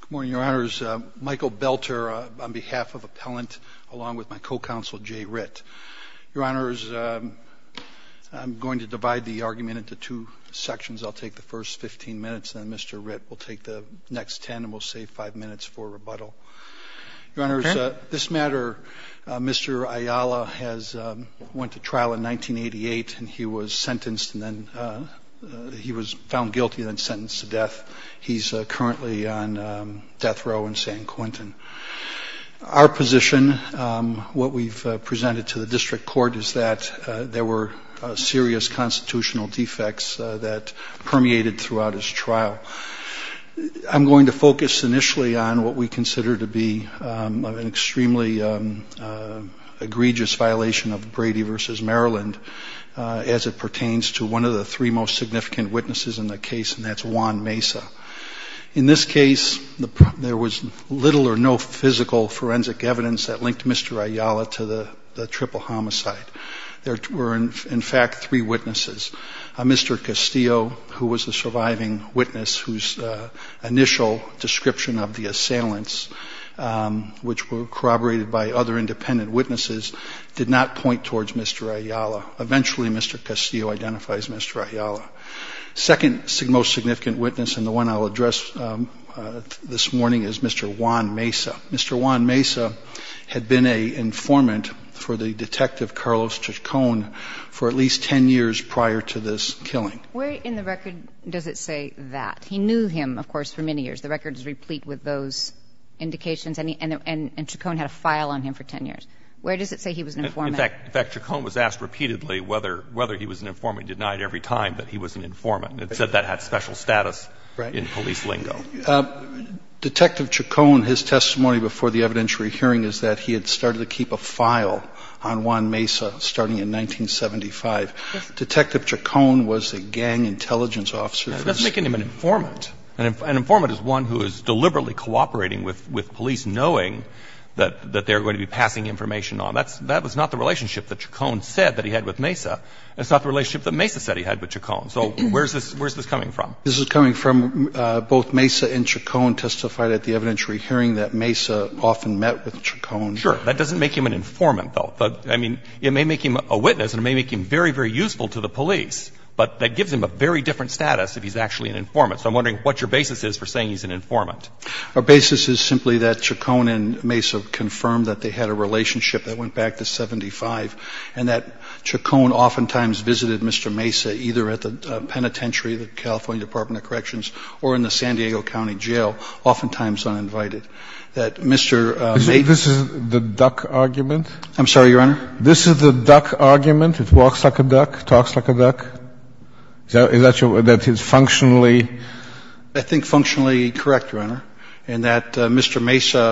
Good morning, Your Honors. Michael Belter on behalf of Appellant along with my co-counsel Jay Ritt. Your Honors, I'm going to divide the argument into two sections. I'll take the first 15 minutes and then Mr. Ritt will take the next 10 and we'll save 5 minutes for rebuttal. Your Honors, this matter, Mr. Ayala went to trial in 1988 and he was sentenced and then he was found guilty and then sentenced to death. He's currently on death row in San Quentin. Our position, what we've presented to the District Court is that there were serious constitutional defects that permeated throughout his trial. I'm going to focus initially on what we consider to be an extremely egregious violation of Brady v. Maryland as it pertains to one of the three most significant witnesses in the case and that's Juan Mesa. In this case, there was little or no physical forensic evidence that linked Mr. Ayala to the triple homicide. There were, in fact, three witnesses. Mr. Castillo, who was the surviving witness whose initial description of the assailants, which were corroborated by other independent witnesses, did not point towards Mr. Ayala. Eventually, Mr. Castillo identifies Mr. Ayala. Second most significant witness and the one I'll address this morning is Mr. Juan Mesa. Mr. Juan Mesa had been an informant for the detective Carlos Chacon for at least 10 years prior to this killing. Where in the record does it say that? He knew him, of course, for many years. The record is replete with those indications. And Chacon had a file on him for 10 years. Where does it say he was an informant? In fact, Chacon was asked repeatedly whether he was an informant, denied every time that he was an informant. It said that had special status in police lingo. Detective Chacon, his testimony before the evidentiary hearing is that he had started to keep a file on Juan Mesa starting in 1975. Detective Chacon was a gang intelligence officer. That's making him an informant. An informant is one who is deliberately cooperating with police knowing that they're going to be passing information on. That was not the relationship that Chacon said that he had with Mesa. It's not the relationship that Mesa said he had with Chacon. So where's this coming from? This is coming from both Mesa and Chacon testified at the evidentiary hearing that Mesa often met with Chacon. Sure. That doesn't make him an informant, though. But, I mean, it may make him a witness and it may make him very, very useful to the police. But that gives him a very different status if he's actually an informant. So I'm wondering what your basis is for saying he's an informant. Our basis is simply that Chacon and Mesa confirmed that they had a relationship that went back to 75, and that Chacon oftentimes visited Mr. Mesa either at the penitentiary, the California Department of Corrections, or in the San Diego County Jail, oftentimes uninvited. That Mr. Mesa — This is the duck argument? I'm sorry, Your Honor? This is the duck argument? It walks like a duck, talks like a duck? Is that your — that is functionally — I think functionally correct, Your Honor, in that Mr. Mesa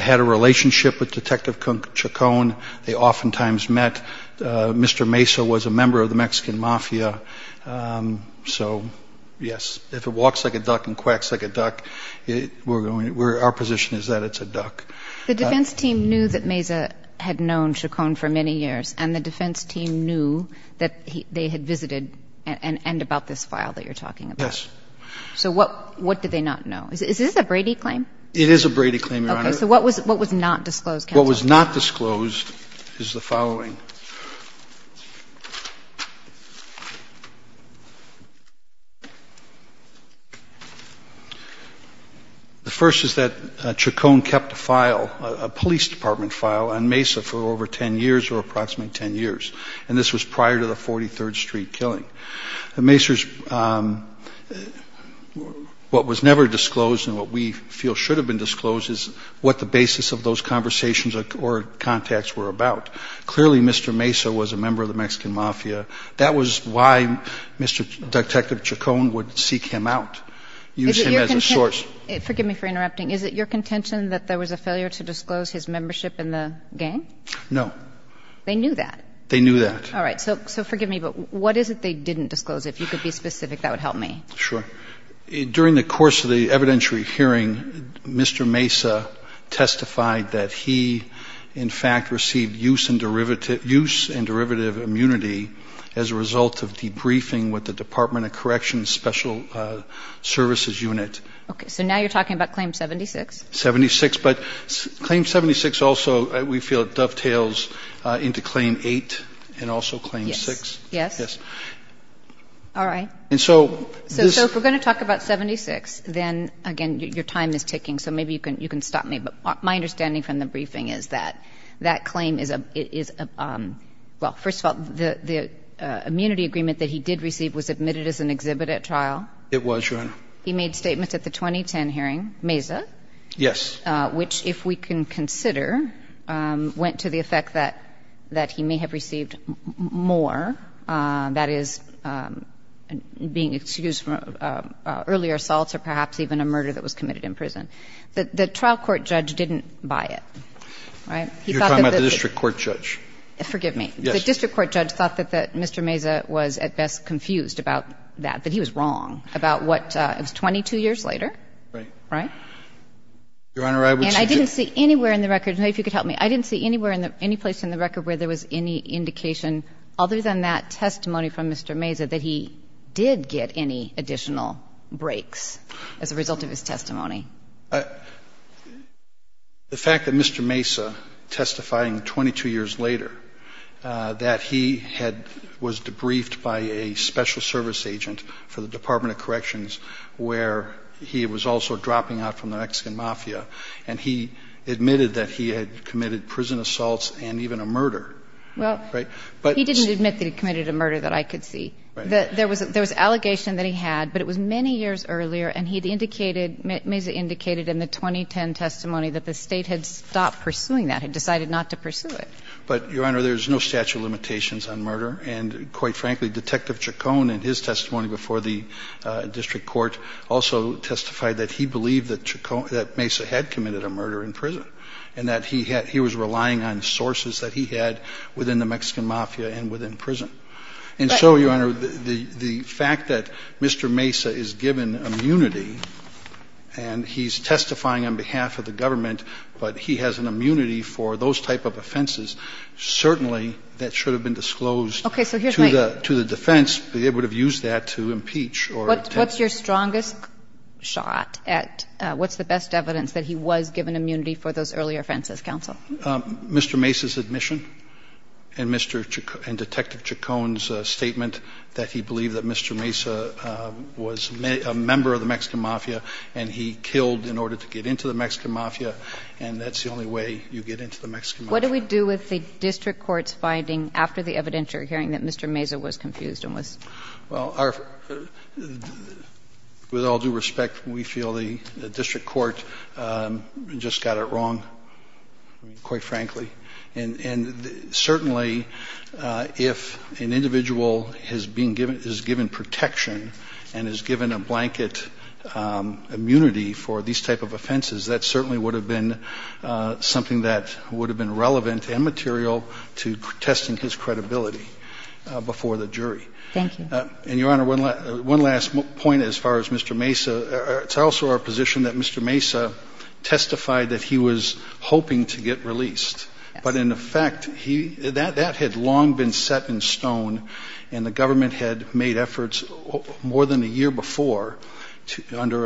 had a relationship with Detective Chacon. They oftentimes met. Mr. Mesa was a member of the Mexican Mafia. So, yes, if it walks like a duck and quacks like a duck, we're going — our position is that it's a duck. The defense team knew that Mesa had known Chacon for many years, and the defense team knew that they had visited and about this file that you're talking about. Yes. So what — what did they not know? Is this a Brady claim? It is a Brady claim, Your Honor. Okay. So what was — what was not disclosed, counsel? What was not disclosed is the following. The first is that Chacon kept a file, a police department file, on Mesa for over 10 years or approximately 10 years, and this was prior to the 43rd Street killing. Mesa's — what was never disclosed and what we feel should have been disclosed is what the basis of those conversations or contacts were about. Clearly Mr. Mesa was a member of the Mexican Mafia. That was why Mr. — Detective Chacon would seek him out, use him as a source — Is it your — forgive me for interrupting. Is it your contention that there was a failure to disclose his membership in the gang? No. They knew that? They knew that. All right. So forgive me, but what is it they didn't disclose? If you could be specific, that would help me. Sure. During the course of the evidentiary hearing, Mr. Mesa testified that he in fact received use and derivative — use and derivative immunity as a result of debriefing with the Department of Corrections Special Services Unit. Okay. So now you're talking about Claim 76? 76. But Claim 76 also, we feel, dovetails into Claim 8 and also Claim 6. Yes. Yes. All right. And so this — So if we're going to talk about 76, then, again, your time is ticking, so maybe you can stop me. But my understanding from the briefing is that that claim is a — is a — well, first of all, the immunity agreement that he did receive was admitted as an exhibit at trial? It was, Your Honor. He made statements at the 2010 hearing, Mesa — Yes. — which, if we can consider, went to the effect that — that he may have received more, that is, being excused from earlier assaults or perhaps even a murder that was committed in prison. The trial court judge didn't buy it, right? He thought that — You're talking about the district court judge. Forgive me. Yes. The district court judge thought that Mr. Mesa was at best confused about that, that he was wrong about what — it was 22 years later, right? Right. Your Honor, I was — And I didn't see anywhere in the record — I don't know if you could help me. I didn't see anywhere in the — any place in the record where there was any indication other than that testimony from Mr. Mesa that he did get any additional breaks as a result of his testimony. The fact that Mr. Mesa, testifying 22 years later, that he had — was debriefed by a special service agent for the Department of Corrections where he was also dropping out from the Mexican Mafia, and he admitted that he had committed prison assaults and even a murder. Well — Right? But — He didn't admit that he committed a murder that I could see. Right. There was — there was allegation that he had, but it was many years earlier, and he had indicated — Mesa indicated in the 2010 testimony that the State had stopped pursuing that, had decided not to pursue it. But, Your Honor, there's no statute of limitations on murder, and quite frankly, Detective Chacon in his testimony before the district court also testified that he believed that Chacon — that Mesa had committed a murder in prison and that he had — he was relying on sources that he had within the Mexican Mafia and within prison. And so, Your Honor, the fact that Mr. Mesa is given immunity and he's testifying on behalf of the government, but he has an immunity for those type of offenses, certainly that should have been disclosed to the defense, but they would have used that to impeach or — What's your strongest shot at — what's the best evidence that he was given immunity for those earlier offenses, counsel? Mr. Mesa's admission and Mr. — and Detective Chacon's statement that he believed that Mr. Mesa was a member of the Mexican Mafia and he killed in order to get into the Mexican Mafia, and that's the only way you get into the Mexican Mafia. What do we do with the district court's finding after the evidentiary hearing that Mr. Mesa was confused and was — Well, our — with all due respect, we feel the district court just got it wrong, quite frankly. And certainly, if an individual has been given — is given protection and is given a blanket immunity for these type of offenses, that certainly would have been something that would have been relevant and material to testing his credibility before the jury. Thank you. And, Your Honor, one last point as far as Mr. Mesa. It's also our position that Mr. Mesa testified that he was hoping to get released but, in effect, he — that had long been set in stone and the government had made efforts more than a year before to — under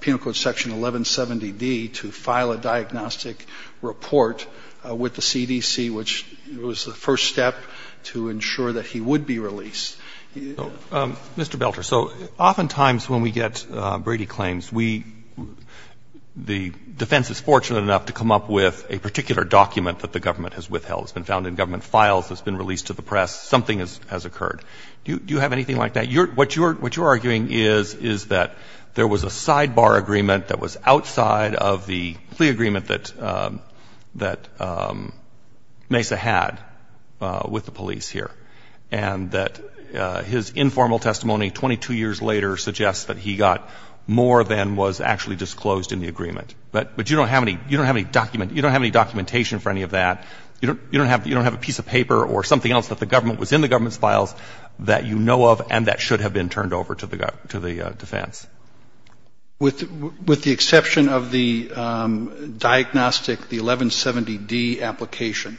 Penal Code Section 1170D to file a diagnostic report with the CDC, which was the first step to ensure that he would be released. Mr. Belter, so oftentimes when we get Brady claims, we — the defense is fortunate enough to come up with a particular document that the government has withheld. It's been found in government files. It's been released to the press. Something has occurred. Do you have anything like that? What you're — what you're arguing is that there was a sidebar agreement that was outside of the plea agreement that Mesa had with the police here and that his informal testimony 22 years later suggests that he got more than was actually disclosed in the agreement. But you don't have any — you don't have any document — you don't have any documentation for any of that. You don't — you don't have — you don't have a piece of paper or something else that the government — was in the government's files that you know of and that should have been turned over to the — to the defense. With the exception of the diagnostic, the 1170D application,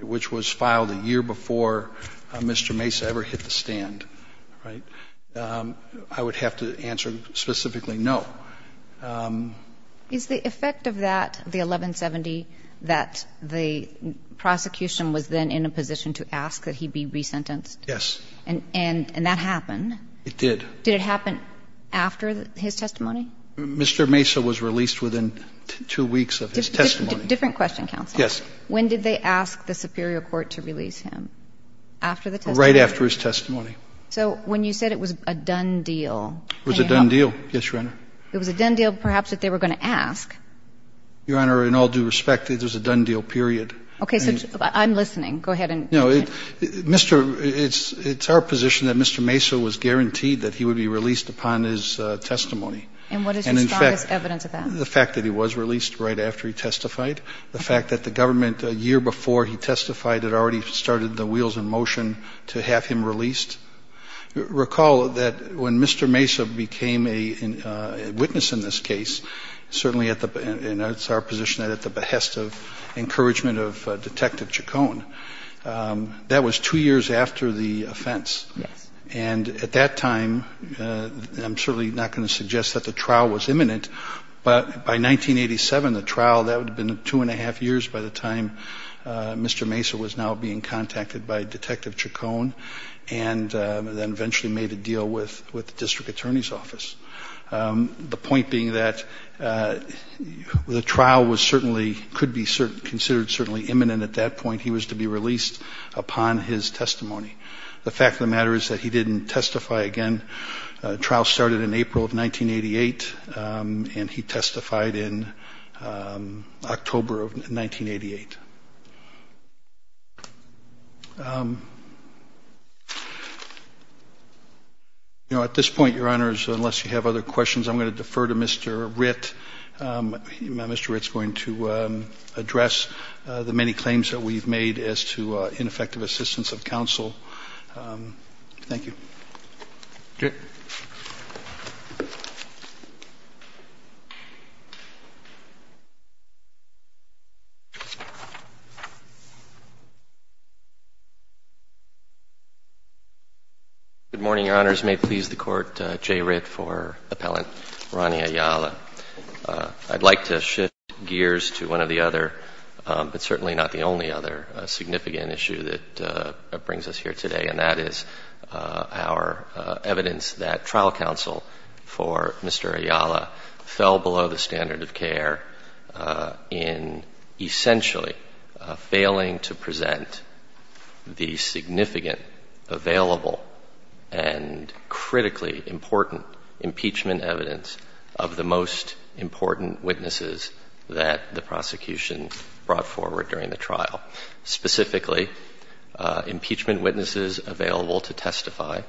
which was filed a year before Mr. Mesa ever hit the stand, right, I would have to answer specifically no. Is the effect of that, the 1170, that the prosecution was then in a position to ask that he be resentenced? Yes. And that happened? It did. Did it happen after his testimony? Mr. Mesa was released within two weeks of his testimony. Different question, counsel. Yes. When did they ask the superior court to release him? After the testimony? Right after his testimony. So when you said it was a done deal — It was a done deal. Yes, Your Honor. It was a done deal, perhaps, that they were going to ask. Your Honor, in all due respect, it was a done deal, period. Okay. So I'm listening. Go ahead and — No, Mr. — it's our position that Mr. Mesa was guaranteed that he would be released upon his testimony. And what is your strongest evidence of that? The fact that he was released right after he testified. The fact that the government, a year before he testified, had already started the wheels in motion to have him released. Recall that when Mr. Mesa became a witness in this case, certainly at the — and it's our position that at the behest of encouragement of Detective Chacon, that was two years after the offense. Yes. And at that time — I'm certainly not going to suggest that the trial was imminent, but by 1987, the trial, that would have been two and a half years by the time Mr. Mesa was now being contacted by Detective Chacon, and then eventually made a deal with the District Attorney's Office. The point being that the trial was certainly — could be considered certainly imminent at that point. He was to be released upon his testimony. The fact of the matter is that he didn't testify again. The trial started in April of 1988, and he testified in October of 1988. You know, at this point, Your Honors, unless you have other questions, I'm going to defer to Mr. Ritt. Mr. Ritt is going to address the many claims that we've made as to ineffective assistance of counsel. Thank you. Mr. Ritt. Good morning, Your Honors. May it please the Court, Jay Ritt for Appellant Ronnie Ayala. I'd like to shift gears to one of the other, but certainly not the only other, significant issue that brings us here today, and that is our evidence that trial counsel for Mr. Ayala fell below the standard of care in essentially failing to present the significant, available, and critically important impeachment evidence of the most important witnesses that the prosecution brought forward during the trial. Specifically, impeachment witnesses available to testify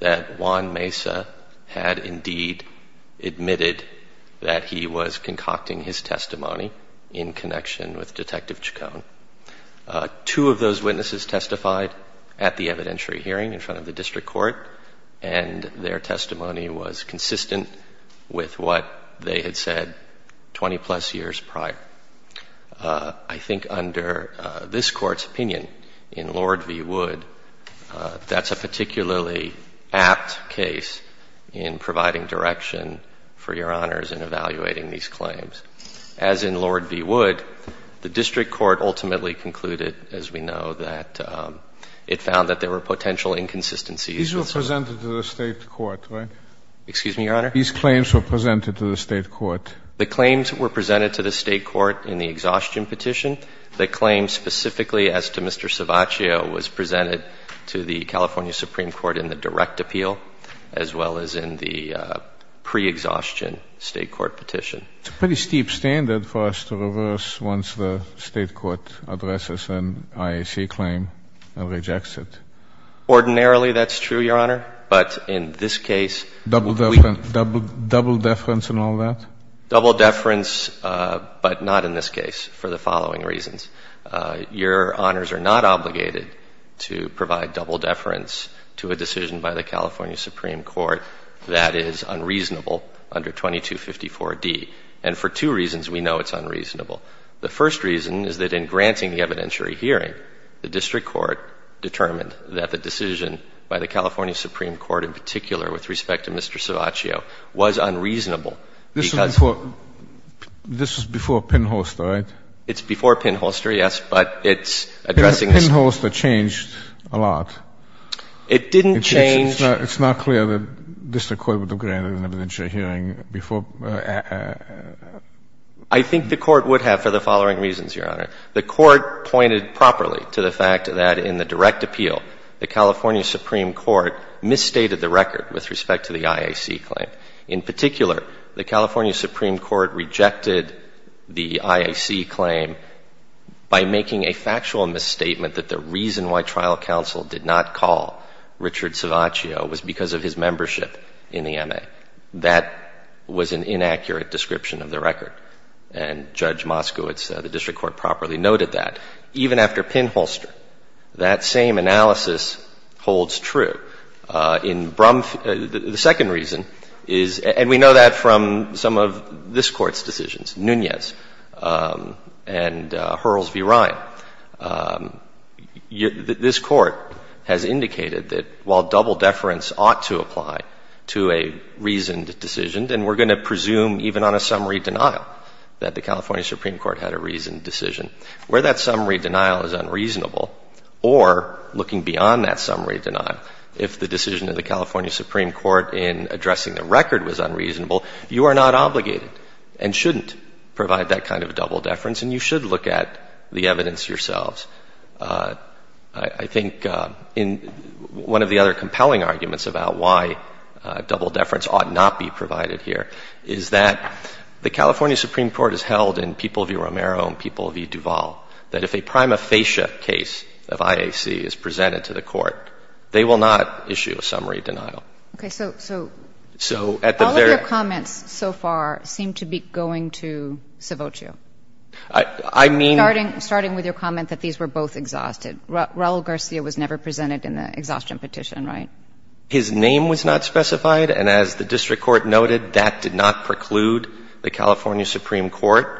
that Juan Mesa had indeed admitted that he was concocting his testimony in connection with Detective Chacon. Two of those witnesses testified at the evidentiary hearing in front of the district court, and their testimony was consistent with what they had said 20-plus years prior. I think under this Court's opinion, in Lord v. Wood, that's a particularly apt case in providing direction for Your Honors in evaluating these claims. As in Lord v. Wood, the district court ultimately concluded, as we know, that it found that there were potential inconsistencies. These were presented to the state court, right? Excuse me, Your Honor? These claims were presented to the state court. The claims were presented to the state court in the exhaustion petition. The claim specifically as to Mr. Cevaccio was presented to the California Supreme Court in the direct appeal, as well as in the pre-exhaustion state court petition. It's a pretty steep standard for us to reverse once the state court addresses an IAC claim and rejects it. Ordinarily, that's true, Your Honor. But in this case... Double deference and all that? Double deference, but not in this case, for the following reasons. Your Honors are not obligated to provide double deference to a decision by the California Supreme Court that is unreasonable under 2254D. And for two reasons we know it's unreasonable. The first reason is that in granting the evidentiary hearing, the district court determined that the decision by the California Supreme Court in particular with respect to Mr. Cevaccio was unreasonable because... This was before Pinholster, right? It's before Pinholster, yes, but it's addressing... Pinholster changed a lot. It didn't change... It's not clear that district court would have granted an evidentiary hearing before... I think the Court would have for the following reasons, Your Honor. The Court pointed properly to the fact that in the direct appeal, the California Supreme Court misstated the record with respect to the IAC claim. In particular, the California Supreme Court rejected the IAC claim by making a factual misstatement that the reason why trial counsel did not call Richard Cevaccio was because of his membership in the MA. That was an inaccurate description of the record. And Judge Moskowitz, the district court properly noted that. Even after Pinholster, that same analysis holds true. In Brumf... The second reason is... And we know that from some of this Court's decisions, Nunez and Hurls v. Ryan. This Court has indicated that while double deference ought to apply to a reasoned decision, then we're going to presume even on a summary denial that the California Supreme Court had a reasoned decision. Where that summary denial is unreasonable, or looking beyond that summary denial, if the decision of the California Supreme Court in addressing the record was unreasonable, you are not obligated and shouldn't provide that kind of double deference, and you should look at the evidence yourselves. I think in one of the other compelling arguments about why double deference ought not be provided here is that the California Supreme Court has held in People v. Duval that if a prima facie case of IAC is presented to the Court, they will not issue a summary denial. Okay. So... So... So at the very... All of your comments so far seem to be going to Savocio. I mean... Starting with your comment that these were both exhausted. Raul Garcia was never presented in the exhaustion petition, right? His name was not specified. And as the district court noted, that did not preclude the California Supreme Court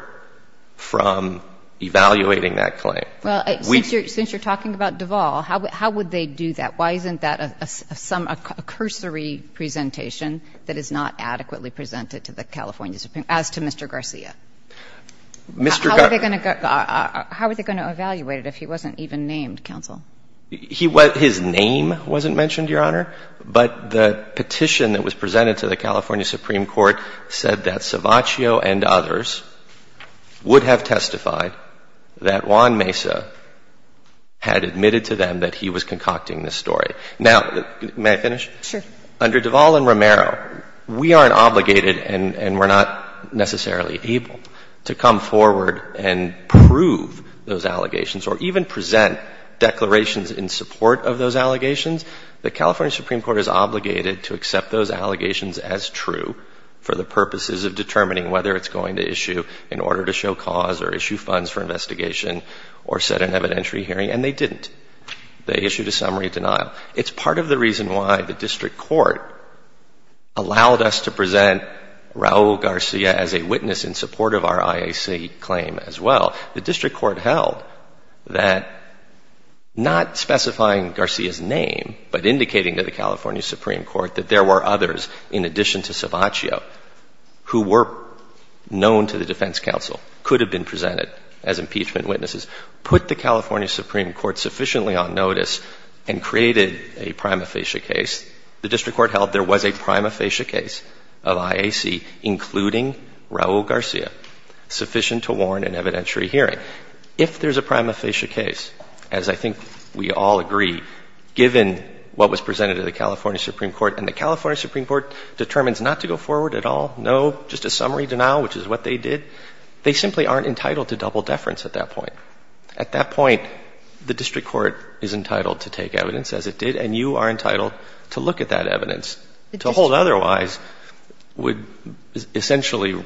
from evaluating that claim. Well, since you're talking about Duval, how would they do that? Why isn't that a cursory presentation that is not adequately presented to the California Supreme, as to Mr. Garcia? Mr. Garcia... How were they going to evaluate it if he wasn't even named, counsel? His name wasn't mentioned, Your Honor. But the petition that was presented to the California Supreme Court said that Savocio and others would have testified that Juan Mesa had admitted to them that he was concocting this story. Now, may I finish? Sure. Under Duval and Romero, we aren't obligated and we're not necessarily able to come forward and prove those allegations or even present declarations in support of those allegations. The California Supreme Court is obligated to accept those allegations as true for the it's going to issue in order to show cause or issue funds for investigation or set an evidentiary hearing, and they didn't. They issued a summary denial. It's part of the reason why the district court allowed us to present Raul Garcia as a witness in support of our IAC claim as well. The district court held that not specifying Garcia's name, but indicating to the California known to the defense counsel, could have been presented as impeachment witnesses, put the California Supreme Court sufficiently on notice and created a prima facie case. The district court held there was a prima facie case of IAC, including Raul Garcia, sufficient to warn an evidentiary hearing. If there's a prima facie case, as I think we all agree, given what was presented to the California Supreme Court and the California Supreme Court determines not to go forward at all, no, just a summary denial, which is what they did, they simply aren't entitled to double deference at that point. At that point, the district court is entitled to take evidence as it did, and you are entitled to look at that evidence. To hold otherwise would essentially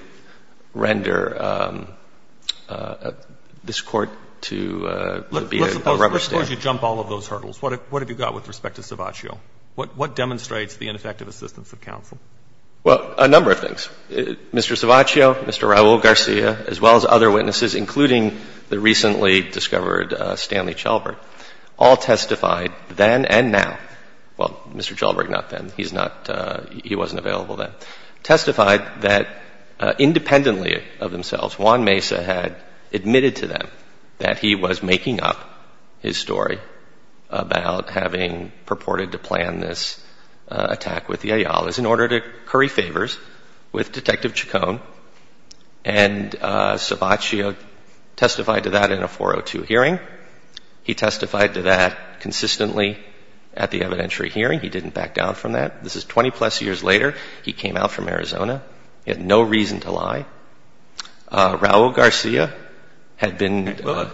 render this court to be a rubber stamp. Let's suppose you jump all of those hurdles. What have you got with respect to Savaccio? What demonstrates the ineffective assistance of counsel? Well, a number of things. Mr. Savaccio, Mr. Raul Garcia, as well as other witnesses, including the recently discovered Stanley Chalbert, all testified then and now. Well, Mr. Chalbert not then. He's not, he wasn't available then. Testified that independently of themselves, Juan Mesa had admitted to them that he was making up his story about having purported to plan this attack with the Ayala's in order to curry favors with Detective Chacon. And Savaccio testified to that in a 402 hearing. He testified to that consistently at the evidentiary hearing. He didn't back down from that. This is 20 plus years later. He came out from Arizona. He had no reason to lie. Raul Garcia had been. Well,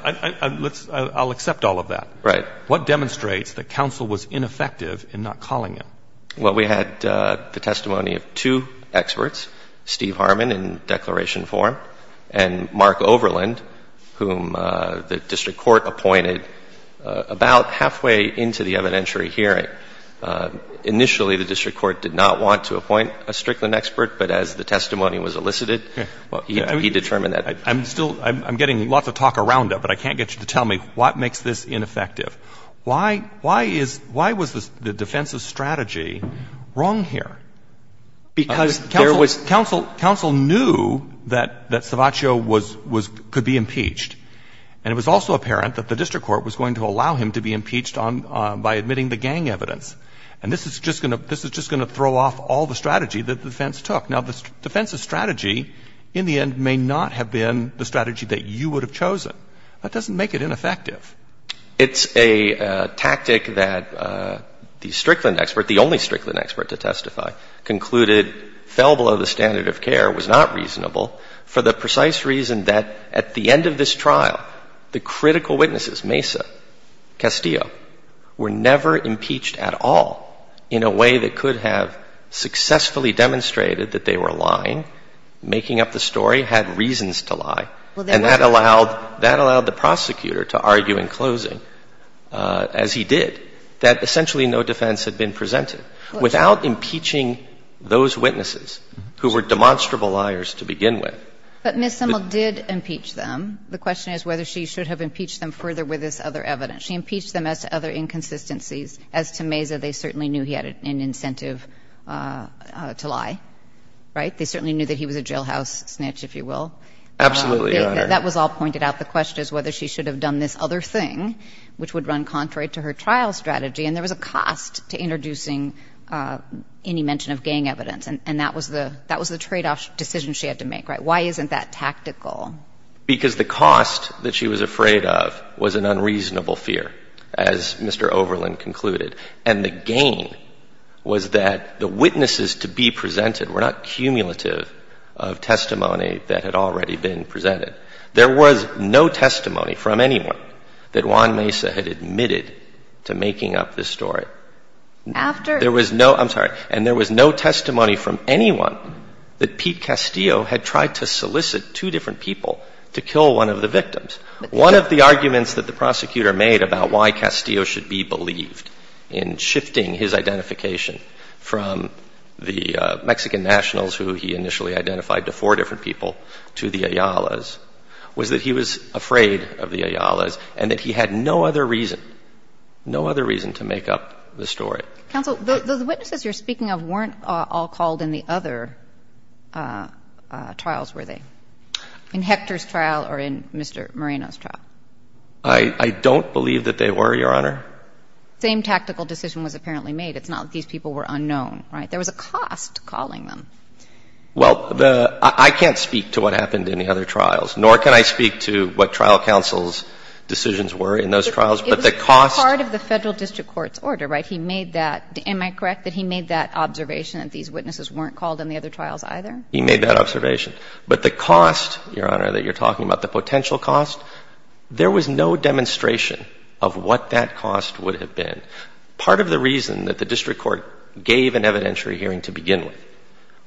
I'll accept all of that. Right. What demonstrates that counsel was ineffective in not calling him? Well, we had the testimony of two experts, Steve Harmon in declaration form and Mark Overland, whom the district court appointed about halfway into the evidentiary hearing. Initially, the district court did not want to appoint a Strickland expert, but as the testimony was elicited, he determined that. I'm still, I'm getting lots of talk around it, but I can't get you to tell me what makes this ineffective. Why, why is, why was the defense's strategy wrong here? Because there was. Counsel, counsel knew that, that Savaccio was, was, could be impeached. And it was also apparent that the district court was going to allow him to be impeached on, by admitting the gang evidence. And this is just going to, this is just going to throw off all the strategy that the defense took. Now, the defense's strategy in the end may not have been the strategy that you would have chosen. That doesn't make it ineffective. It's a tactic that the Strickland expert, the only Strickland expert to testify, concluded fell below the standard of care, was not reasonable for the precise reason that at the end of this trial, the critical witnesses, Mesa, Castillo, were never impeached at all in a way that could have successfully demonstrated that they were lying, making up the story, had reasons to lie. And that allowed, that allowed the prosecutor to argue in closing, as he did, that essentially no defense had been presented. Without impeaching those witnesses who were demonstrable liars to begin with. But Ms. Simmel did impeach them. The question is whether she should have impeached them further with this other evidence. She impeached them as to other inconsistencies. As to Mesa, they certainly knew he had an incentive to lie, right? They certainly knew that he was a jailhouse snitch, if you will. Absolutely, Your Honor. That was all pointed out. The question is whether she should have done this other thing, which would run contrary to her trial strategy. And there was a cost to introducing any mention of gang evidence. And that was the tradeoff decision she had to make, right? Why isn't that tactical? Because the cost that she was afraid of was an unreasonable fear, as Mr. Overland concluded. And the gain was that the witnesses to be presented were not cumulative of testimony that had already been presented. There was no testimony from anyone that Juan Mesa had admitted to making up this story. After? There was no, I'm sorry, and there was no testimony from anyone that Pete Castillo had tried to solicit two different people to kill one of the victims. One of the arguments that the prosecutor made about why Castillo should be believed in shifting his identification from the Mexican nationals who he initially identified to four different people to the Ayala's was that he was afraid of the Ayala's and that he had no other reason, no other reason to make up the story. Counsel, the witnesses you're speaking of weren't all called in the other trials, were they? In Hector's trial or in Mr. Moreno's trial? I don't believe that they were, Your Honor. Same tactical decision was apparently made. It's not that these people were unknown, right? There was a cost calling them. Well, the, I can't speak to what happened in the other trials, nor can I speak to what trial counsel's decisions were in those trials, but the cost. It was part of the Federal District Court's order, right? He made that, am I correct that he made that observation that these witnesses weren't called in the other trials either? He made that observation. But the cost, Your Honor, that you're talking about, the potential cost, there was no demonstration of what that cost would have been. Part of the reason that the district court gave an evidentiary hearing to begin with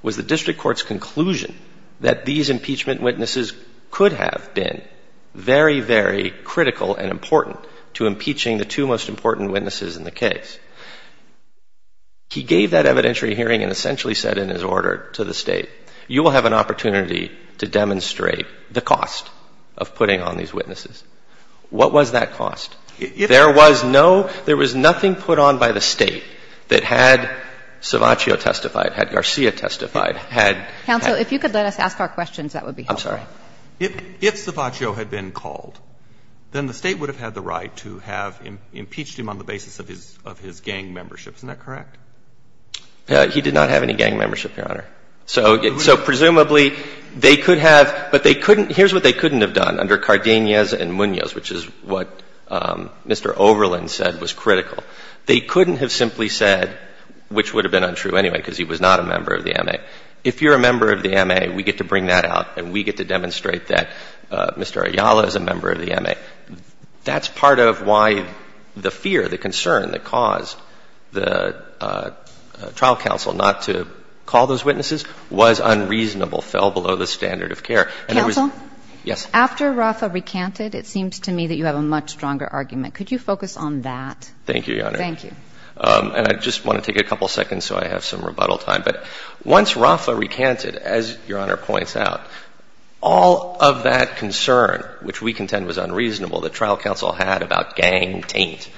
was the district court's conclusion that these impeachment witnesses could have been very, very critical and important to impeaching the two most important witnesses in the case. He gave that evidentiary hearing and essentially said in his order to the State, you will have an opportunity to demonstrate the cost of putting on these witnesses. What was that cost? There was no, there was nothing put on by the State that had, as Justice Breyer testified, had. Counsel, if you could let us ask our questions, that would be helpful. I'm sorry. If Cervacho had been called, then the State would have had the right to have impeached him on the basis of his gang membership, isn't that correct? He did not have any gang membership, Your Honor. So, presumably, they could have, but they couldn't, here's what they couldn't have done under Cardenas and Munoz, which is what Mr. Overland said was critical. They couldn't have simply said, which would have been untrue anyway, because he was not a member of the M.A. If you're a member of the M.A., we get to bring that out and we get to demonstrate that Mr. Ayala is a member of the M.A. That's part of why the fear, the concern that caused the trial counsel not to call those witnesses was unreasonable, fell below the standard of care. Counsel? Yes. After Rafa recanted, it seems to me that you have a much stronger argument. Could you focus on that? Thank you, Your Honor. Thank you. And I just want to take a couple seconds so I have some rebuttal time. But once Rafa recanted, as Your Honor points out, all of that concern, which we contend was unreasonable, that trial counsel had about gang taint,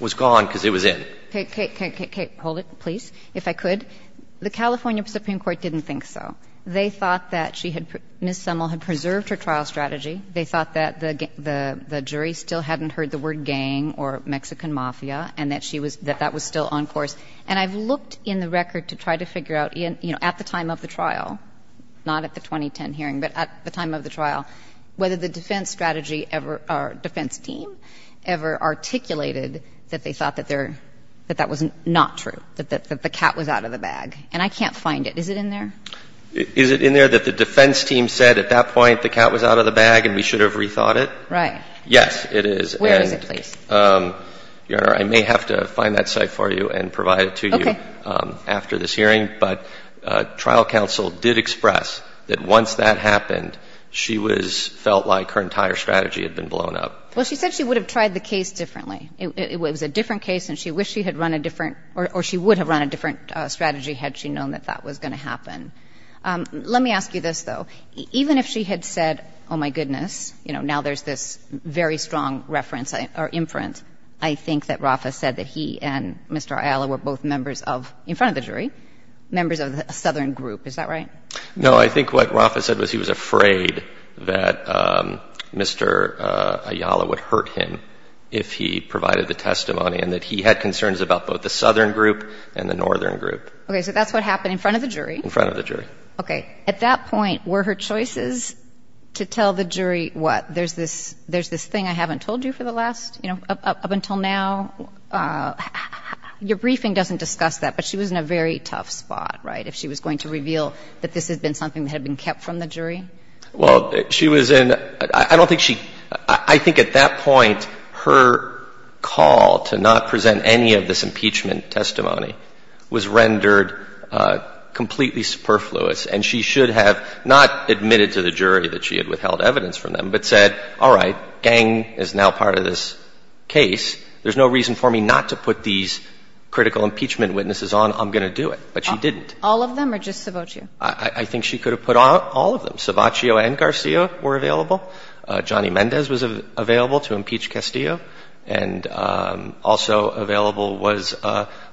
was gone because it was in. Okay. Okay. Okay. Okay. Hold it, please, if I could. The California Supreme Court didn't think so. They thought that she had — Ms. Semmel had preserved her trial strategy. They thought that the jury still hadn't heard the word gang or Mexican mafia and that that was still on course. And I've looked in the record to try to figure out, you know, at the time of the trial, not at the 2010 hearing, but at the time of the trial, whether the defense strategy ever — defense team ever articulated that they thought that they're — that that was not true, that the cat was out of the bag. And I can't find it. Is it in there? Is it in there that the defense team said at that point the cat was out of the bag and we should have rethought it? Right. Yes, it is. Where is it, please? Your Honor, I may have to find that site for you and provide it to you after this hearing. But trial counsel did express that once that happened, she was — felt like her entire strategy had been blown up. Well, she said she would have tried the case differently. It was a different case, and she wished she had run a different — or she would have run a different strategy had she known that that was going to happen. Let me ask you this, though. Even if she had said, oh, my goodness, you know, now there's this very strong reference or inference, I think that Rafa said that he and Mr. Ayala were both members of — in front of the jury — members of the southern group. Is that right? No. I think what Rafa said was he was afraid that Mr. Ayala would hurt him if he provided the testimony and that he had concerns about both the southern group and the northern group. OK. So that's what happened in front of the jury? In front of the jury. OK. At that point, were her choices to tell the jury what? There's this — there's this thing I haven't told you for the last — you know, up until now, your briefing doesn't discuss that, but she was in a very tough spot, right, if she was going to reveal that this had been something that had been kept from the jury? Well, she was in — I don't think she — I think at that point, her call to not present any of this impeachment testimony was rendered completely superfluous. And she should have not admitted to the jury that she had withheld evidence from them but said, all right, Gang is now part of this case. There's no reason for me not to put these critical impeachment witnesses on. I'm going to do it. But she didn't. All of them or just Sabaccio? I think she could have put all of them. Sabaccio and Garcia were available. Johnny Mendez was available to impeach Castillo. And also available was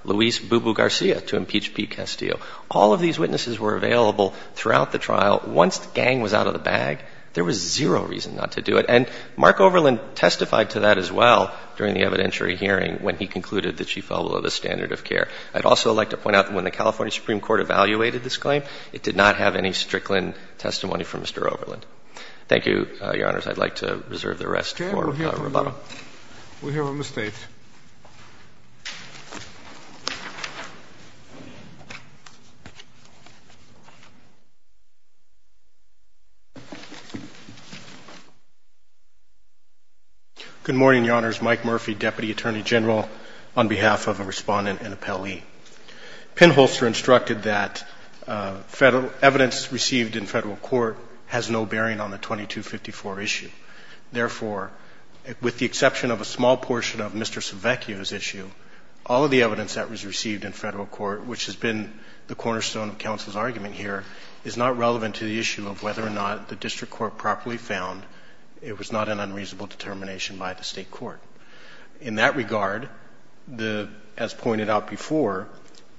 Luis Bubu Garcia to impeach Pete Castillo. All of these witnesses were available throughout the trial. Once Gang was out of the bag, there was zero reason not to do it. And Mark Overland testified to that as well during the evidentiary hearing when he concluded that she fell below the standard of care. I'd also like to point out that when the California Supreme Court evaluated this claim, it did not have any Strickland testimony from Mr. Overland. Thank you, Your Honors. I'd like to reserve the rest for rebuttal. We have a mistake. Good morning, Your Honors. Mike Murphy, Deputy Attorney General, on behalf of a respondent and appellee. Pinholster instructed that evidence received in federal court has no bearing on the 2254 issue. Therefore, with the exception of a small portion of Mr. Sabaccio's issue, all of the evidence that was received in federal court, which has been the cornerstone of counsel's argument here, is not relevant to the issue of whether or not the district court properly found it was not an unreasonable determination by the state court. In that regard, as pointed out before,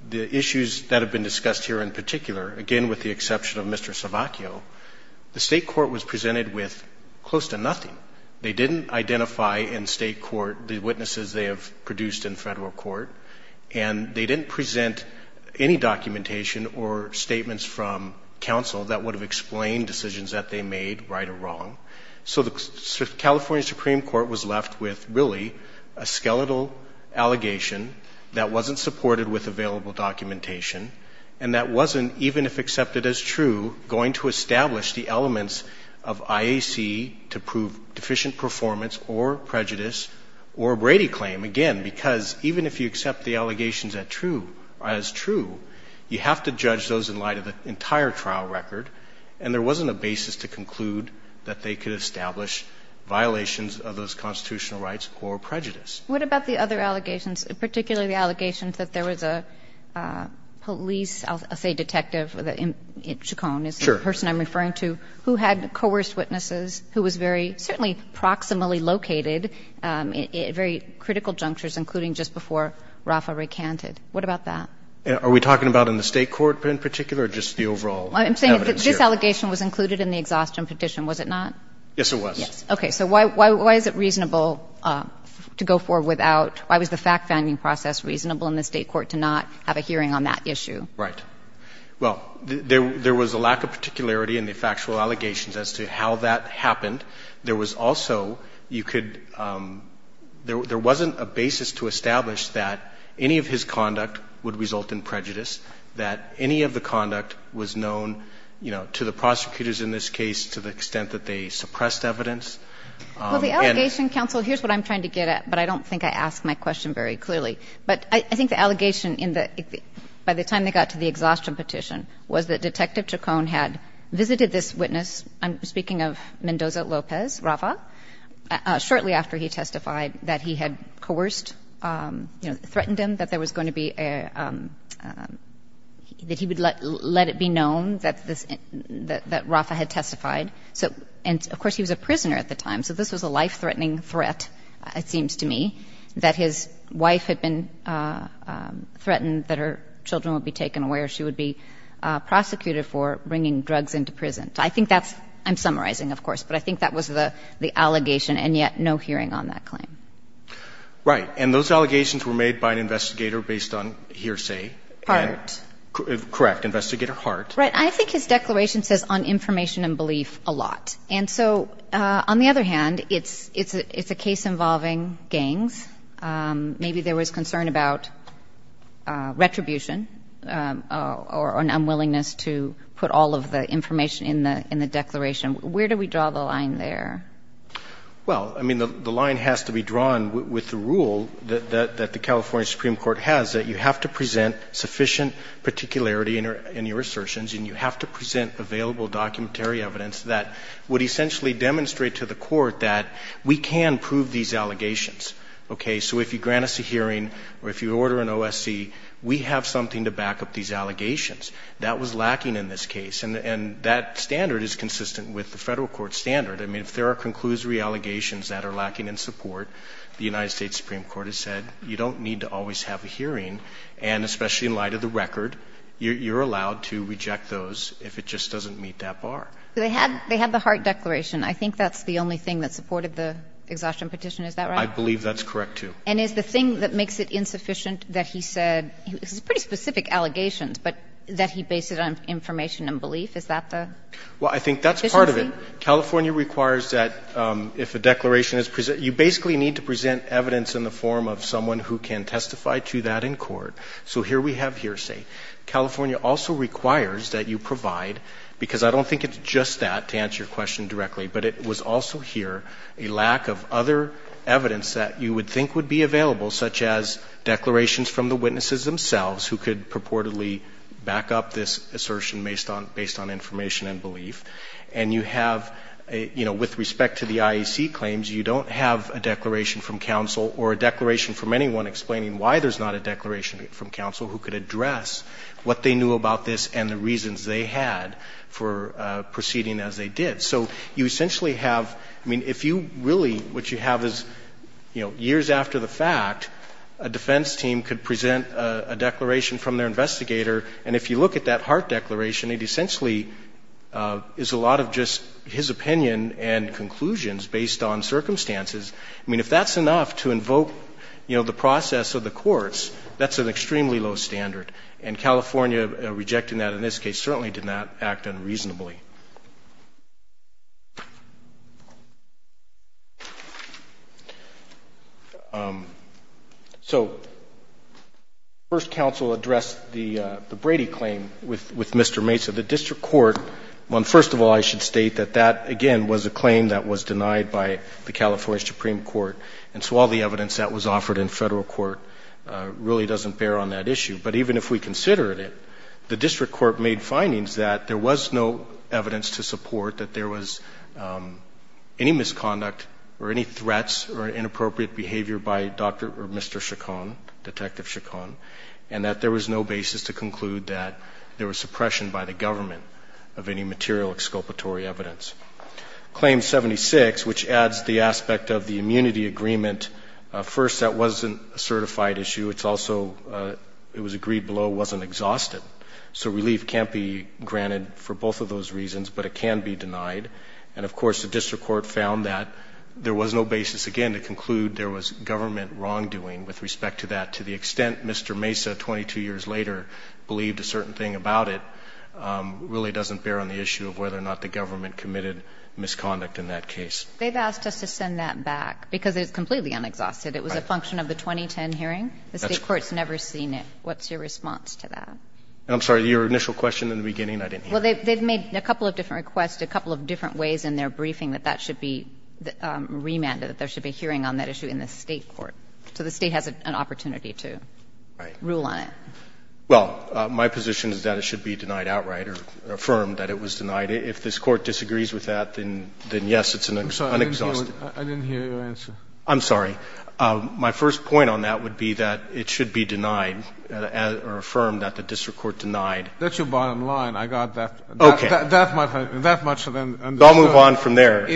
the issues that have been discussed here in particular, again with the exception of Mr. Sabaccio, the state court was presented with close to nothing. They didn't identify in state court the witnesses they have produced in federal court, and they didn't present any documentation or statements from counsel that would have explained decisions that they made, right or wrong. So the California Supreme Court was left with, really, a skeletal allegation that wasn't supported with available documentation, and that wasn't, even if accepted as true, going to establish the elements of IAC to prove deficient performance or prejudice or a Brady claim. Again, because even if you accept the allegations as true, you have to judge those in light of the entire trial record, and there wasn't a basis to conclude that they could establish violations of those constitutional rights or prejudice. What about the other allegations, particularly the allegations that there was a police or, say, detective, Chacon is the person I'm referring to, who had coerced witnesses, who was very certainly proximally located at very critical junctures, including just before Rafa recanted. What about that? Are we talking about in the state court in particular or just the overall evidence here? I'm saying that this allegation was included in the exhaustion petition, was it not? Yes, it was. Yes. Okay. So why is it reasonable to go forward without – why was the fact-finding process reasonable in the state court to not have a hearing on that issue? Right. Well, there was a lack of particularity in the factual allegations as to how that happened. There was also – you could – there wasn't a basis to establish that any of his conduct would result in prejudice, that any of the conduct was known, you know, to the prosecutors in this case to the extent that they suppressed evidence. Well, the allegation, counsel, here's what I'm trying to get at, but I don't think I asked my question very clearly. But I think the allegation in the – by the time they got to the exhaustion petition was that Detective Chacon had visited this witness – I'm speaking of Mendoza-Lopez, Rafa – shortly after he testified that he had coerced, you know, threatened him that there was going to be a – that he would let it be known that that Rafa had testified. So – and, of course, he was a prisoner at the time, so this was a life-threatening threat, it seems to me, that his wife had been threatened that her children would be taken away or she would be prosecuted for bringing drugs into prison. I think that's – I'm summarizing, of course, but I think that was the allegation and yet no hearing on that claim. Right. And those allegations were made by an investigator based on hearsay. Hart. Correct. Investigator Hart. Right. I think his declaration says on information and belief a lot. And so, on the other hand, it's a case involving gangs. Maybe there was concern about retribution or an unwillingness to put all of the information in the declaration. Where do we draw the line there? Well, I mean, the line has to be drawn with the rule that the California Supreme Court has, that you have to present sufficient particularity in your assertions and you have to present available documentary evidence that would essentially demonstrate to the court that we can prove these allegations. Okay? So if you grant us a hearing or if you order an OSC, we have something to back up these allegations. That was lacking in this case. And that standard is consistent with the Federal Court standard. And especially in light of the record, you're allowed to reject those if it just doesn't meet that bar. So they had the Hart declaration. I think that's the only thing that supported the exhaustion petition. Is that right? I believe that's correct, too. And is the thing that makes it insufficient that he said, this is pretty specific allegations, but that he based it on information and belief? Is that the deficiency? Well, I think that's part of it. California requires that if a declaration is presented, you basically need to present evidence in the form of someone who can testify to that in court. So here we have hearsay. California also requires that you provide, because I don't think it's just that to answer your question directly, but it was also here a lack of other evidence that you would think would be available, such as declarations from the witnesses themselves who could purportedly back up this assertion based on information and belief. And you have, you know, with respect to the IEC claims, you don't have a declaration from counsel or a declaration from anyone explaining why there's not a declaration from counsel who could address what they knew about this and the reasons they had for proceeding as they did. So you essentially have, I mean, if you really, what you have is, you know, years after the fact, a defense team could present a declaration from their investigator, and if you look at that Hart declaration, it essentially is a lot of just his opinion and conclusions based on circumstances. I mean, if that's enough to invoke, you know, the process of the courts, that's an extremely low standard. And California rejecting that in this case certainly did not act unreasonably. So first counsel addressed the Brady claim with Mr. Mesa. The district court, well, first of all, I should state that that, again, was a claim that was denied by the California Supreme Court, and so all the evidence that was offered in federal court really doesn't bear on that issue. But even if we consider it, the district court made findings that there was no evidence to support that there was any misconduct or any threats or inappropriate behavior by Dr. or Mr. Chacon, Detective Chacon, and that there was no basis to conclude that there was suppression by the government of any material exculpatory evidence. Claim 76, which adds the aspect of the immunity agreement, first, that wasn't a certified issue. It's also, it was agreed below, wasn't exhausted. So relief can't be granted for both of those reasons, but it can be denied. And, of course, the district court found that there was no basis, again, to conclude there was government wrongdoing with respect to that, to the extent Mr. Mesa, 22 years later, believed a certain thing about it, really doesn't bear on the issue of whether or not the government committed misconduct in that case. They've asked us to send that back because it's completely unexhausted. It was a function of the 2010 hearing. The State court's never seen it. What's your response to that? I'm sorry. Your initial question in the beginning, I didn't hear. Well, they've made a couple of different requests, a couple of different ways in their briefing that that should be remanded, that there should be a hearing on that issue in the State court. So the State has an opportunity to rule on it. Well, my position is that it should be denied outright or affirmed that it was denied if this court disagrees with that, then yes, it's an unexhaustive. I'm sorry. I didn't hear your answer. I'm sorry. My first point on that would be that it should be denied or affirmed that the district court denied. That's your bottom line. I got that. Okay. That much I understood. I'll move on from there.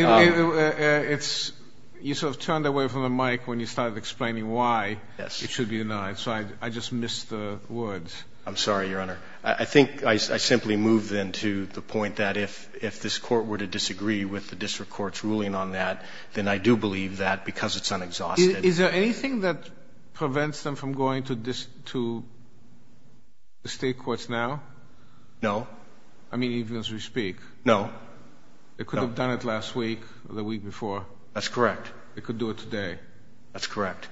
You sort of turned away from the mic when you started explaining why it should be denied. So I just missed the words. I'm sorry, Your Honor. I think I simply moved into the point that if this court were to disagree with the district court's ruling on that, then I do believe that because it's unexhaustive. Is there anything that prevents them from going to the State courts now? No. I mean, even as we speak. No. They could have done it last week or the week before. That's correct. They could do it today. That's correct.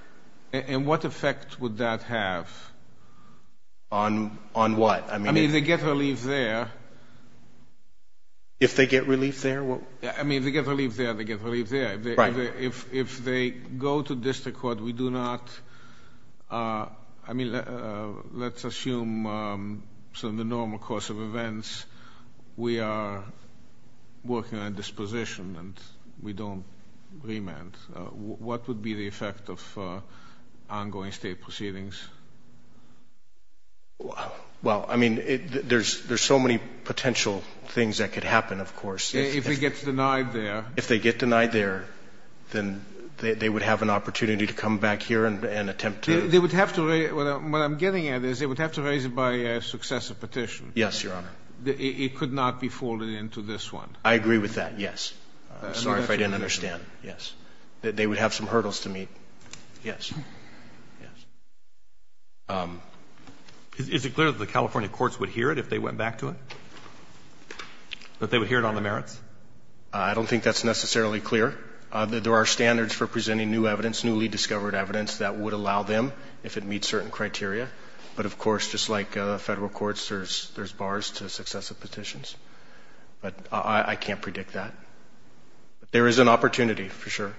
And what effect would that have? On what? I mean, if they get relief there. If they get relief there? I mean, if they get relief there, they get relief there. If they go to district court, we do not. I mean, let's assume some of the normal course of events. We are working on disposition and we don't remand. What would be the effect of ongoing State proceedings? Well, I mean, there's so many potential things that could happen, of course. If it gets denied there. If they get denied there, then they would have an opportunity to come back here and attempt to. They would have to, what I'm getting at is they would have to raise it by a successive petition. Yes, Your Honor. It could not be folded into this one. I agree with that. Yes. I'm sorry if I didn't understand. Yes. That they would have some hurdles to meet. Yes. Yes. Um, is it clear that the California courts would hear it if they went back to it? That they would hear it on the merits? I don't think that's necessarily clear. There are standards for presenting new evidence, newly discovered evidence that would allow them if it meets certain criteria. But of course, just like federal courts, there's bars to successive petitions. But I can't predict that. There is an opportunity for sure.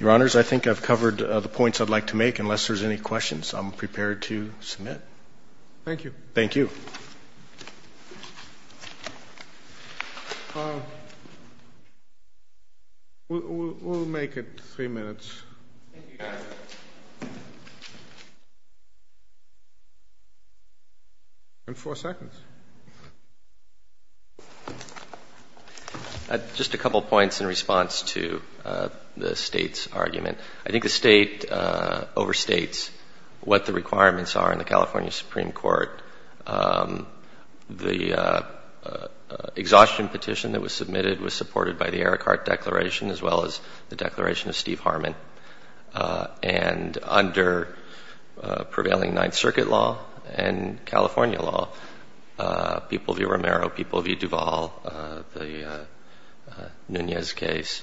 Your Honors, I think I've covered the points I'd like to make, unless there's any questions, I'm prepared to submit. Thank you. Thank you. Um, we'll make it three minutes. Thank you. Thank you. Thank you. Thank you. Thank you. Thank you. Just a couple points in response to the State's argument. I think the State overstates what the requirements are in the California Supreme Court. The exhaustion petition that was submitted was supported by the Eric Hart Declaration, as well as the Declaration of Steve Harmon. And under prevailing Ninth Circuit law and California law, People v. Romero, People v. Duvall, the Nunez case,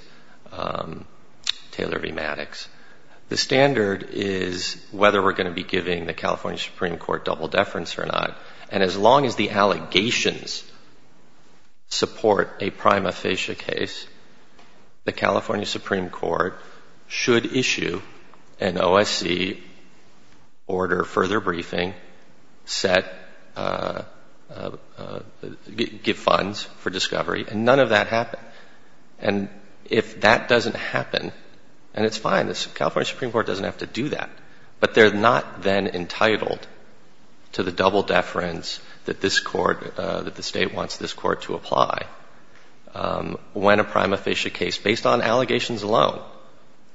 Taylor v. Maddox. The standard is whether we're going to be giving the California Supreme Court double deference or not. And as long as the allegations support a prima facie case, the California Supreme Court should issue an OSC order, further briefing, set, give funds for discovery. And none of that happened. And if that doesn't happen, and it's fine. California Supreme Court doesn't have to do that. But they're not then entitled to the double deference that this court, that the State wants this court to apply. When a prima facie case, based on allegations alone,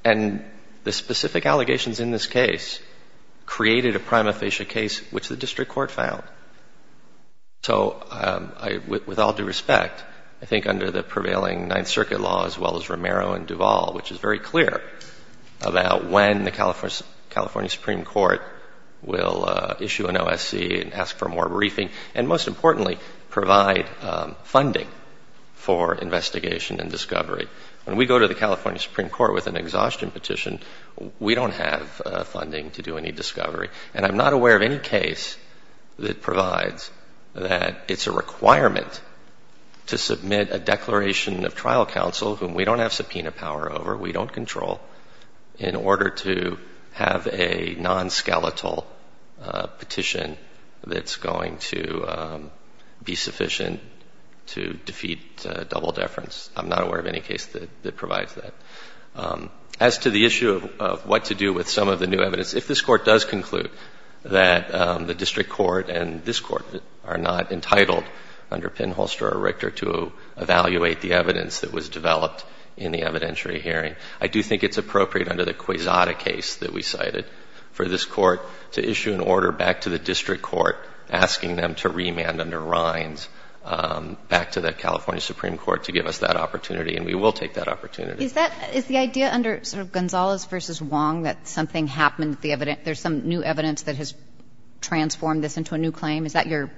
and the specific allegations in this case, created a prima facie case, which the District Court filed. So with all due respect, I think under the prevailing Ninth Circuit law, as well as Romero and Duvall, which is very clear, about when the California Supreme Court will issue an OSC and ask for more briefing, and most importantly, provide funding for investigation and discovery. When we go to the California Supreme Court with an exhaustion petition, we don't have funding to do any discovery. And I'm not aware of any case that provides that it's a requirement to submit a declaration of trial counsel whom we don't have subpoena power over, we don't control, in order to have a non-skeletal petition that's going to be sufficient to defeat double deference. I'm not aware of any case that provides that. As to the issue of what to do with some of the new evidence, if this Court does conclude that the District Court and this Court are not entitled under Penholster or Richter to evaluate the evidence that was developed in the evidentiary hearing, I do think it's appropriate under the Quezada case that we cited for this Court to issue an order back to the District Court asking them to remand under Rhines back to the California Supreme Court to give us that opportunity, and we will take that opportunity. Is that, is the idea under, sort of, Gonzalez v. Wong that something happened to the evidence, there's some new evidence that has transformed this into a new claim? Is that your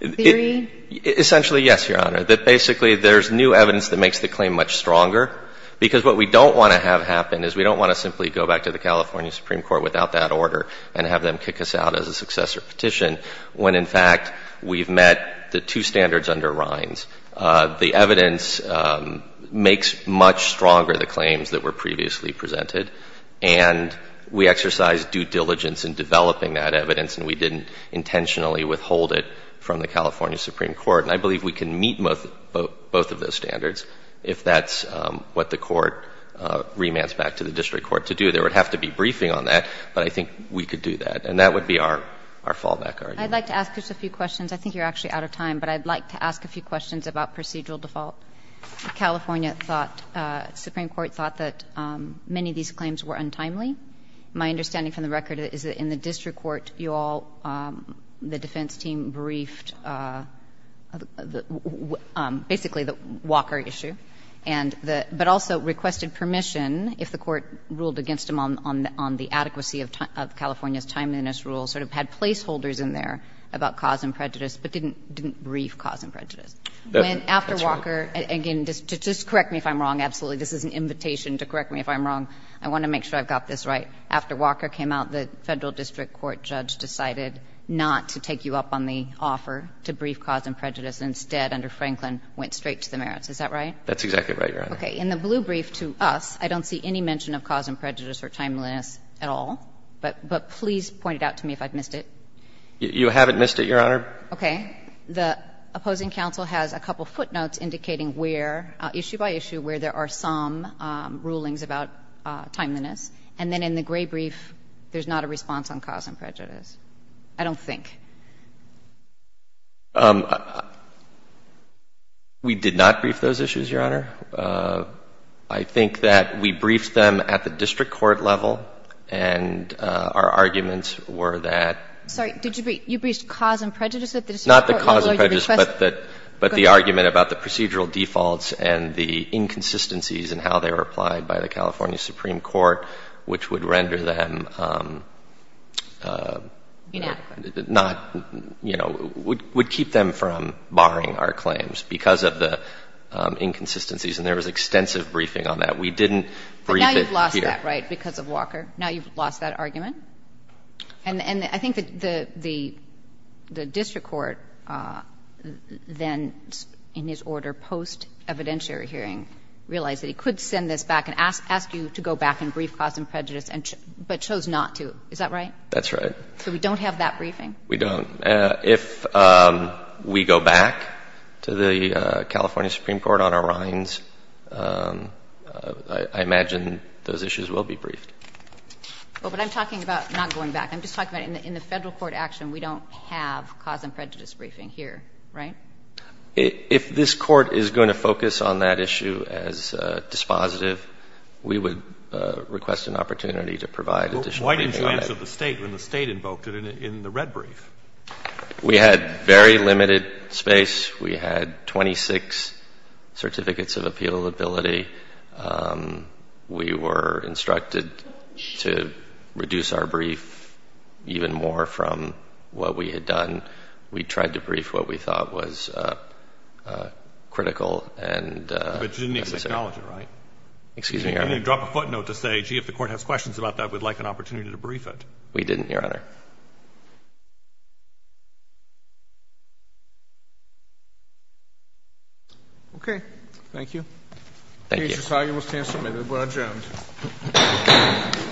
theory? Essentially, yes, Your Honor. That basically there's new evidence that makes the claim much stronger, because what we don't want to have happen is we don't want to simply go back to the California Supreme Court without that order and have them kick us out as a successor petition when, in fact, we've met the two standards under Rhines. The evidence makes much stronger the claims that were previously presented, and we exercised due diligence in developing that evidence and we didn't intentionally withhold it from the California Supreme Court. And I believe we can meet both of those standards if that's what the Court remands back to the District Court to do. There would have to be briefing on that, but I think we could do that, and that would be our fallback argument. I'd like to ask just a few questions. I think you're actually out of time, but I'd like to ask a few questions about procedural default. California thought, Supreme Court thought that many of these claims were untimely. My understanding from the record is that in the District Court, you all, the defense team briefed, basically, the Walker issue, but also requested permission if the Court ruled against them on the adequacy of California's timeliness rule, sort of had placeholders in there about cause and prejudice, but didn't brief cause and prejudice. That's right. When after Walker, again, just correct me if I'm wrong, absolutely. This is an invitation to correct me if I'm wrong. I want to make sure I've got this right. After Walker came out, the Federal District Court judge decided not to take you up on the offer to brief cause and prejudice. Instead, under Franklin, went straight to the merits. Is that right? That's exactly right, Your Honor. Okay. In the blue brief to us, I don't see any mention of cause and prejudice or timeliness at all, but please point it out to me if I've missed it. You haven't missed it, Your Honor. Okay. The opposing counsel has a couple footnotes indicating where, issue by issue, where there are some rulings about timeliness, and then in the gray brief, there's not a response on cause and prejudice. I don't think. We did not brief those issues, Your Honor. I think that we briefed them at the District Court level, and our arguments were that— Sorry. Did you brief—you briefed cause and prejudice at the District Court? Not the cause and prejudice, but the argument about the procedural defaults and the inconsistencies in how they were applied by the California Supreme Court, which would render them— Not, you know, would keep them from barring our claims because of the inconsistencies. And there was extensive briefing on that. We didn't brief it here. But now you've lost that, right, because of Walker? Now you've lost that argument? And I think that the District Court then, in his order post-evidentiary hearing, realized that he could send this back and ask you to go back and brief cause and prejudice, but chose not to. Is that right? That's right. So we don't have that briefing? We don't. If we go back to the California Supreme Court on our rinds, I imagine those issues will be briefed. Well, but I'm talking about not going back. I'm just talking about in the Federal Court action, we don't have cause and prejudice briefing here, right? If this Court is going to focus on that issue as dispositive, we would request an opportunity to provide additional briefing on that. When the State invoked it in the red brief. We had very limited space. We had 26 certificates of appealability. We were instructed to reduce our brief even more from what we had done. We tried to brief what we thought was critical and necessary. But you didn't acknowledge it, right? Excuse me, Your Honor? You didn't drop a footnote to say, gee, if the Court has questions about that, we'd like an opportunity to brief it. We didn't, Your Honor. Okay. Thank you. Thank you.